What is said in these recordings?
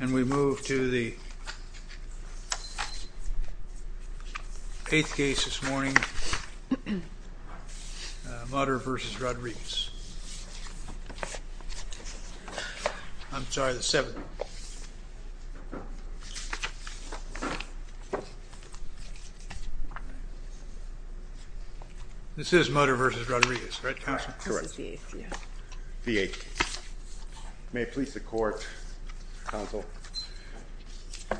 And we move to the eighth case this morning, Mutter v. Rodriguez. I'm sorry, the seventh. This is Mutter v. Rodriguez, right? Correct. This is the eighth, yeah. The eighth. May it please the Court, Counsel.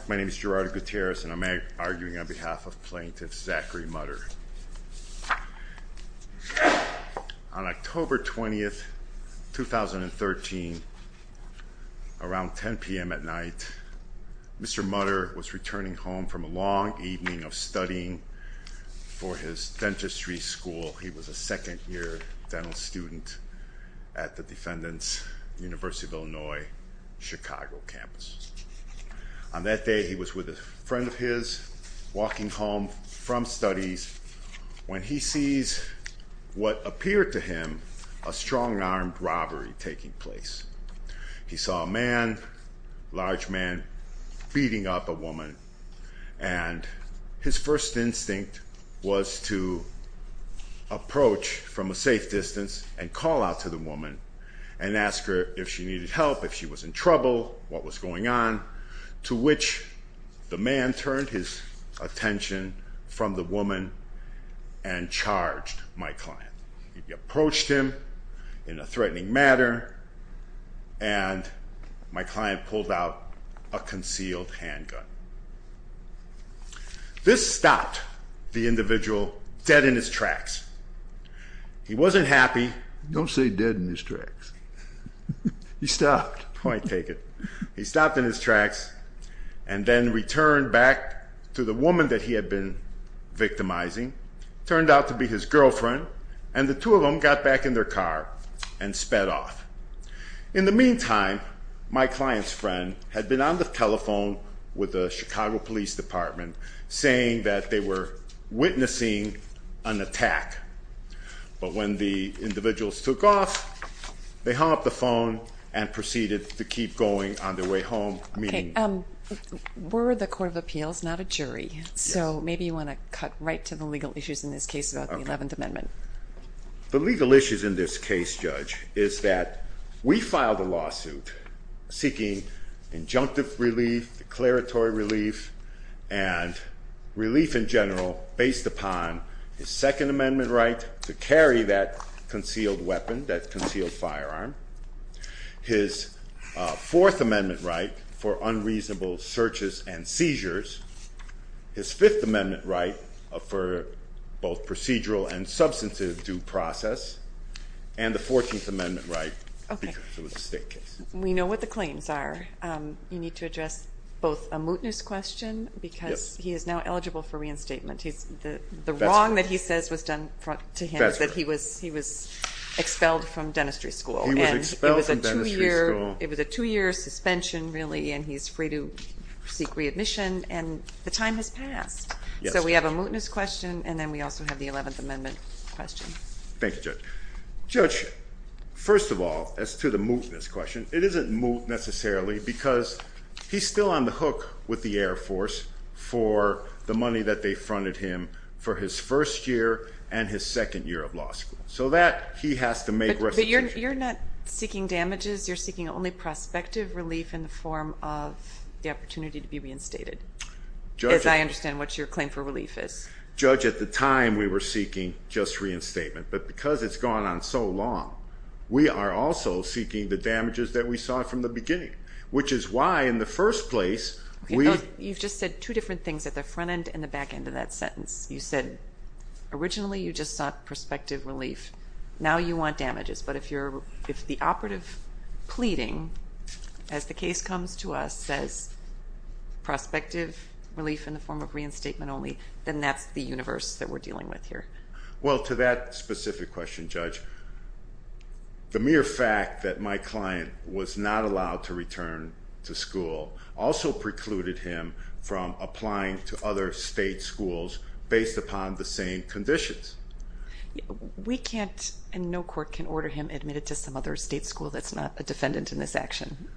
My name is Gerardo Gutierrez, and I'm arguing on behalf of plaintiff Zachary Mutter. On October 20, 2013, around 10 p.m. at night, Mr. Mutter was returning home from a long evening of studying for his dentistry school. He was a second-year dental student at the Defendants University of Illinois Chicago campus. On that day, he was with a friend of his, walking home from studies, when he sees what appeared to him a strong-armed robbery taking place. He saw a man, a large man, beating up a woman, and his first instinct was to approach from a safe distance and call out to the woman and ask her if she needed help, if she was in trouble, what was going on, to which the man turned his attention from the woman and charged my client. He approached him in a threatening manner, and my client pulled out a concealed handgun. This stopped the individual dead in his tracks. He wasn't happy. Don't say dead in his tracks. He stopped. Point taken. He stopped in his tracks and then returned back to the woman that he had been victimizing. It turned out to be his girlfriend, and the two of them got back in their car and sped off. In the meantime, my client's friend had been on the telephone with the Chicago Police Department saying that they were witnessing an attack. But when the individuals took off, they hung up the phone and proceeded to keep going on their way home. Okay. We're the Court of Appeals, not a jury, so maybe you want to cut right to the legal issues in this case about the Eleventh Amendment. The legal issues in this case, Judge, is that we filed a lawsuit seeking injunctive relief, declaratory relief, and relief in general based upon his Second Amendment right to carry that concealed weapon, that concealed firearm, his Fourth Amendment right for unreasonable searches and seizures, his Fifth Amendment right for both procedural and substantive due process, and the Fourteenth Amendment right because it was a state case. We know what the claims are. You need to address both a mootness question because he is now eligible for reinstatement. The wrong that he says was done to him is that he was expelled from dentistry school. He was expelled from dentistry school. It was a two-year suspension, really, and he's free to seek readmission, and the time has passed. So we have a mootness question, and then we also have the Eleventh Amendment question. Thank you, Judge. Judge, first of all, as to the mootness question, it isn't moot necessarily because he's still on the hook with the Air Force for the money that they funded him for his first year and his second year of law school. So that he has to make restitution. But you're not seeking damages. You're seeking only prospective relief in the form of the opportunity to be reinstated, as I understand what your claim for relief is. Judge, at the time we were seeking just reinstatement, but because it's gone on so long, we are also seeking the damages that we saw from the beginning, which is why in the first place we You've just said two different things at the front end and the back end of that sentence. You said originally you just sought prospective relief. Now you want damages, but if the operative pleading, as the case comes to us, says prospective relief in the form of reinstatement only, then that's the universe that we're dealing with here. Well, to that specific question, Judge, the mere fact that my client was not allowed to return to school also precluded him from applying to other state schools based upon the same conditions. We can't and no court can order him admitted to some other state school that's not a defendant in this action.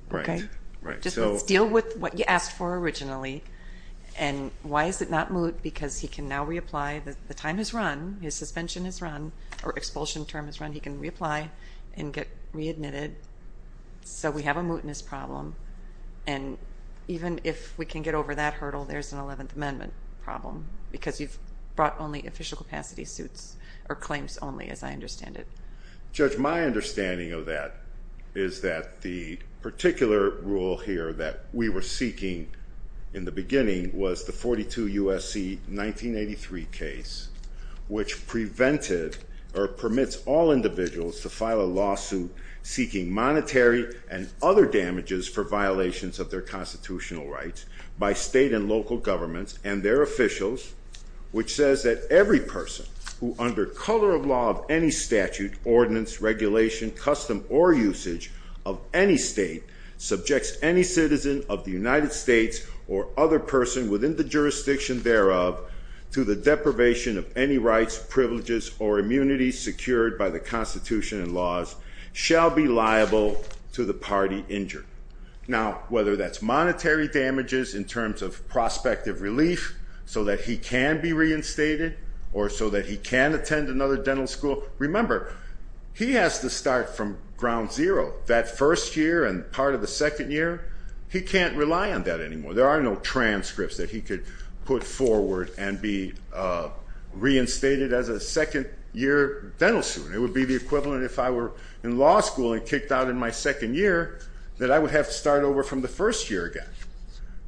Let's deal with what you asked for originally. And why is it not moot? Because he can now reapply. The time has run. His suspension has run or expulsion term has run. He can reapply and get readmitted. So we have a mootness problem. And even if we can get over that hurdle, there's an Eleventh Amendment problem because you've brought only official capacity suits or claims only, as I understand it. Judge, my understanding of that is that the particular rule here that we were seeking in the beginning was the 42 U.S.C. 1983 case, which prevented or permits all individuals to file a lawsuit seeking monetary and other damages for violations of their constitutional rights by state and local governments and their officials, which says that every person who under color of law of any statute, ordinance, regulation, custom, or usage of any state subjects any citizen of the United States or other person within the jurisdiction thereof to the deprivation of any rights, privileges, or immunity secured by the Constitution and laws shall be liable to the party injured. Now, whether that's monetary damages in terms of prospective relief so that he can be reinstated or so that he can attend another dental school, remember, he has to start from ground zero. That first year and part of the second year, he can't rely on that anymore. There are no transcripts that he could put forward and be reinstated as a second-year dental student. It would be the equivalent if I were in law school and kicked out in my second year that I would have to start over from the first year again.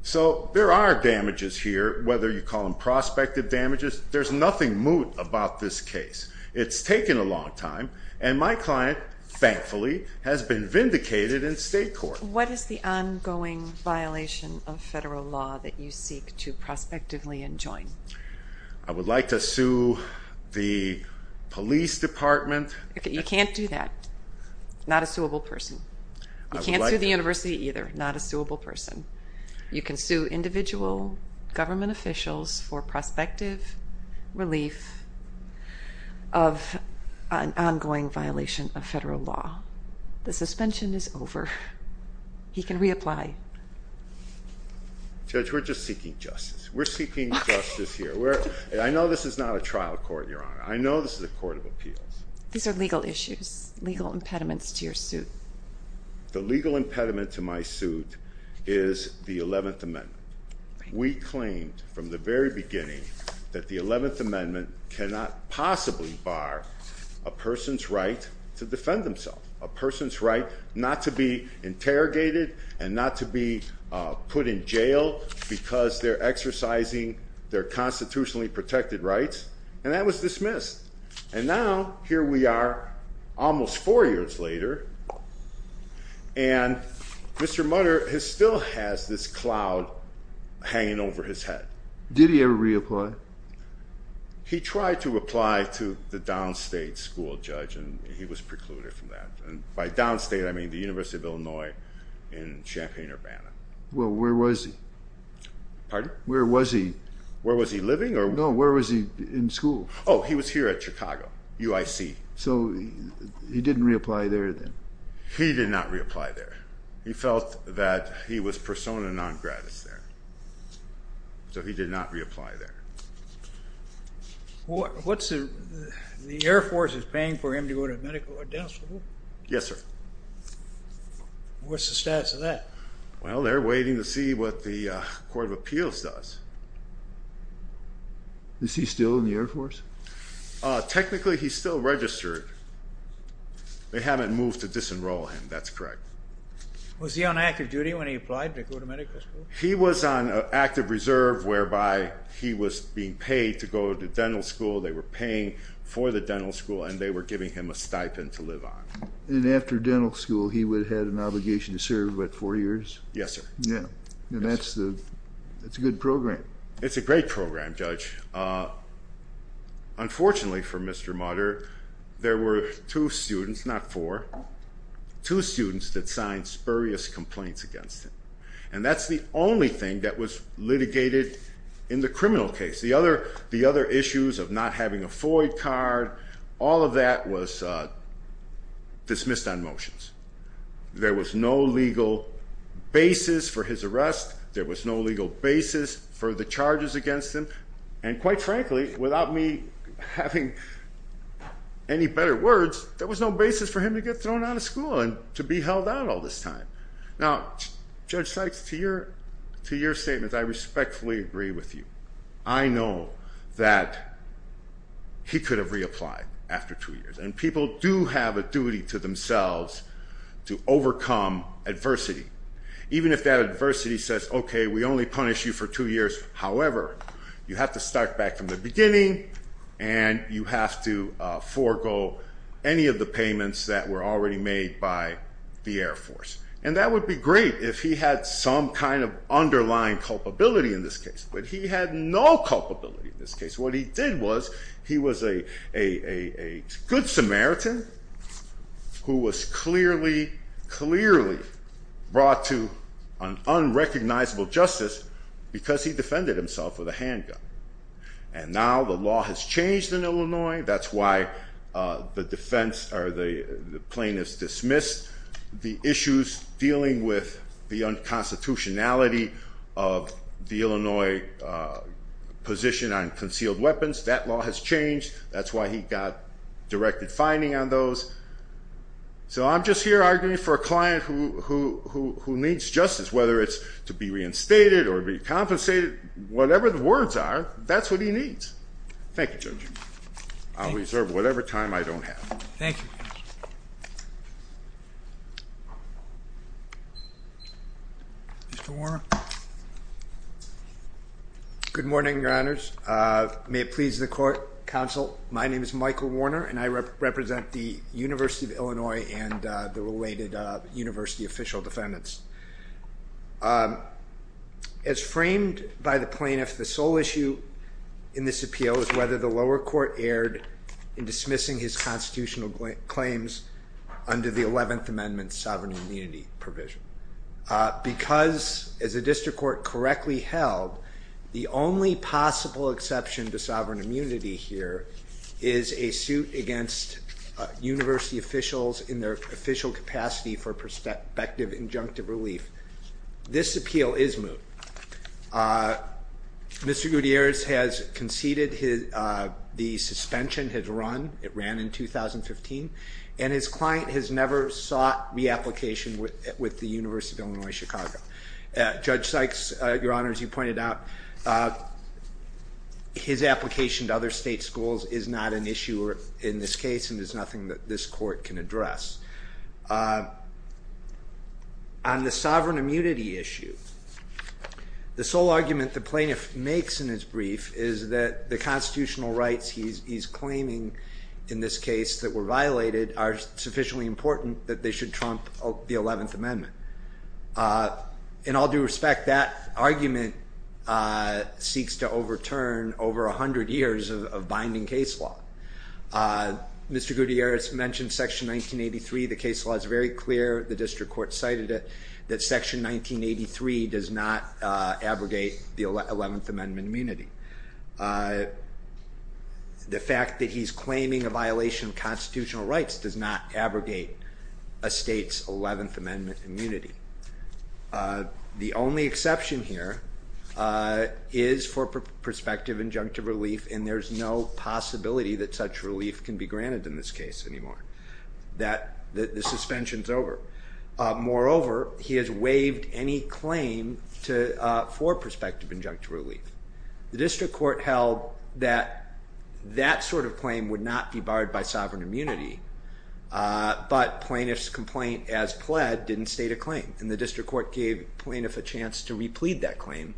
So there are damages here, whether you call them prospective damages. There's nothing moot about this case. It's taken a long time, and my client, thankfully, has been vindicated in state court. What is the ongoing violation of federal law that you seek to prospectively enjoin? I would like to sue the police department. You can't do that. Not a suable person. You can't sue the university either. Not a suable person. You can sue individual government officials for prospective relief of an ongoing violation of federal law. The suspension is over. He can reapply. Judge, we're just seeking justice. We're seeking justice here. I know this is not a trial court, Your Honor. I know this is a court of appeals. These are legal issues, legal impediments to your suit. The legal impediment to my suit is the 11th Amendment. We claimed from the very beginning that the 11th Amendment cannot possibly bar a person's right to defend themselves, a person's right not to be interrogated and not to be put in jail because they're exercising their constitutionally protected rights, and that was dismissed. And now here we are almost four years later, and Mr. Mutter still has this cloud hanging over his head. Did he ever reapply? He tried to apply to the downstate school, Judge, and he was precluded from that. By downstate, I mean the University of Illinois in Champaign-Urbana. Well, where was he? Pardon? Where was he? Where was he living? No, where was he in school? Oh, he was here at Chicago, UIC. So he didn't reapply there then? He did not reapply there. He felt that he was persona non gratis there, so he did not reapply there. The Air Force is paying for him to go to a medical downstate school? Yes, sir. What's the status of that? Well, they're waiting to see what the Court of Appeals does. Is he still in the Air Force? Technically, he's still registered. They haven't moved to disenroll him. That's correct. Was he on active duty when he applied to go to medical school? He was on active reserve, whereby he was being paid to go to dental school. They were paying for the dental school, and they were giving him a stipend to live on. And after dental school, he would have had an obligation to serve, what, four years? Yes, sir. Yeah, and that's a good program. It's a great program, Judge. Unfortunately for Mr. Mutter, there were two students, not four, two students that signed spurious complaints against him. And that's the only thing that was litigated in the criminal case. The other issues of not having a FOIA card, all of that was dismissed on motions. There was no legal basis for his arrest. There was no legal basis for the charges against him. And quite frankly, without me having any better words, there was no basis for him to get thrown out of school and to be held out all this time. Now, Judge Sykes, to your statement, I respectfully agree with you. I know that he could have reapplied after two years, and people do have a duty to themselves to overcome adversity. Even if that adversity says, okay, we only punish you for two years, however, you have to start back from the beginning, and you have to forego any of the payments that were already made by the Air Force. And that would be great if he had some kind of underlying culpability in this case, but he had no culpability in this case. What he did was he was a good Samaritan who was clearly, clearly brought to an unrecognizable justice because he defended himself with a handgun. And now the law has changed in Illinois. That's why the defense or the plaintiff's dismissed the issues dealing with the unconstitutionality of the Illinois position on concealed weapons. That law has changed. That's why he got directed fining on those. So I'm just here arguing for a client who needs justice, whether it's to be reinstated or to be compensated. Whatever the words are, that's what he needs. Thank you, Judge. I'll reserve whatever time I don't have. Thank you. Mr. Warner. Good morning, Your Honors. May it please the court, counsel, my name is Michael Warner, and I represent the University of Illinois and the related university official defendants. As framed by the plaintiff, the sole issue in this appeal is whether the lower court erred in dismissing his constitutional claims under the 11th Amendment sovereign immunity provision. Because, as the district court correctly held, the only possible exception to sovereign immunity here is a suit against university officials in their official capacity for perspective injunctive relief. This appeal is moot. Mr. Gutierrez has conceded the suspension had run. It ran in 2015. And his client has never sought reapplication with the University of Illinois Chicago. Judge Sykes, Your Honors, you pointed out his application to other state schools is not an issue in this case and is nothing that this court can address. On the sovereign immunity issue, the sole argument the plaintiff makes in his brief is that the constitutional rights he's claiming in this case that were violated are sufficiently important that they should trump the 11th Amendment. In all due respect, that argument seeks to overturn over 100 years of binding case law. Mr. Gutierrez mentioned Section 1983. The case law is very clear. The district court cited it, that Section 1983 does not abrogate the 11th Amendment immunity. The fact that he's claiming a violation of constitutional rights does not abrogate a state's 11th Amendment immunity. The only exception here is for perspective injunctive relief and there's no possibility that such relief can be granted in this case anymore. The suspension's over. Moreover, he has waived any claim for perspective injunctive relief. The district court held that that sort of claim would not be barred by sovereign immunity but plaintiff's complaint as pled didn't state a claim and the district court gave plaintiff a chance to replete that claim.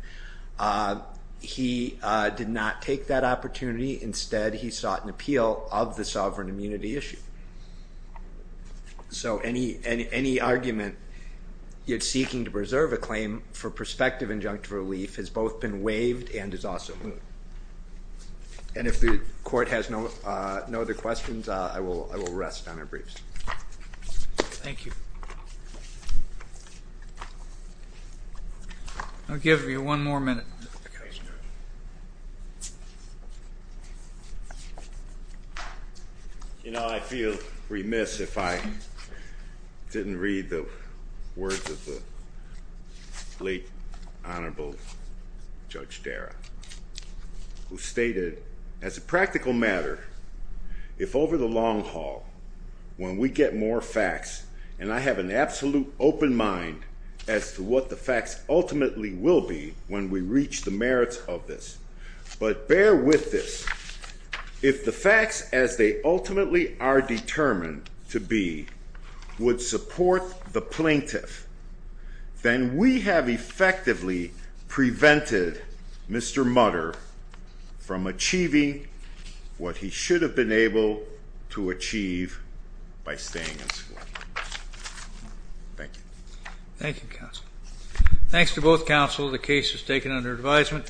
He did not take that opportunity. Instead, he sought an appeal of the sovereign immunity issue. So any argument seeking to preserve a claim for perspective injunctive relief has both been waived and is also moved. And if the court has no other questions, I will rest on our briefs. Thank you. I'll give you one more minute. You know, I'd feel remiss if I didn't read the words of the late Honorable Judge Darragh who stated, as a practical matter, if over the long haul, when we get more facts and I have an absolute open mind as to what the facts ultimately will be when we reach the merits of this. But bear with this. If the facts as they ultimately are determined to be would support the plaintiff, then we have effectively prevented Mr. Mutter from achieving what he should have been able to achieve by staying in school. Thank you. Thank you, Counsel. Thanks to both counsel. The case is taken under advisement.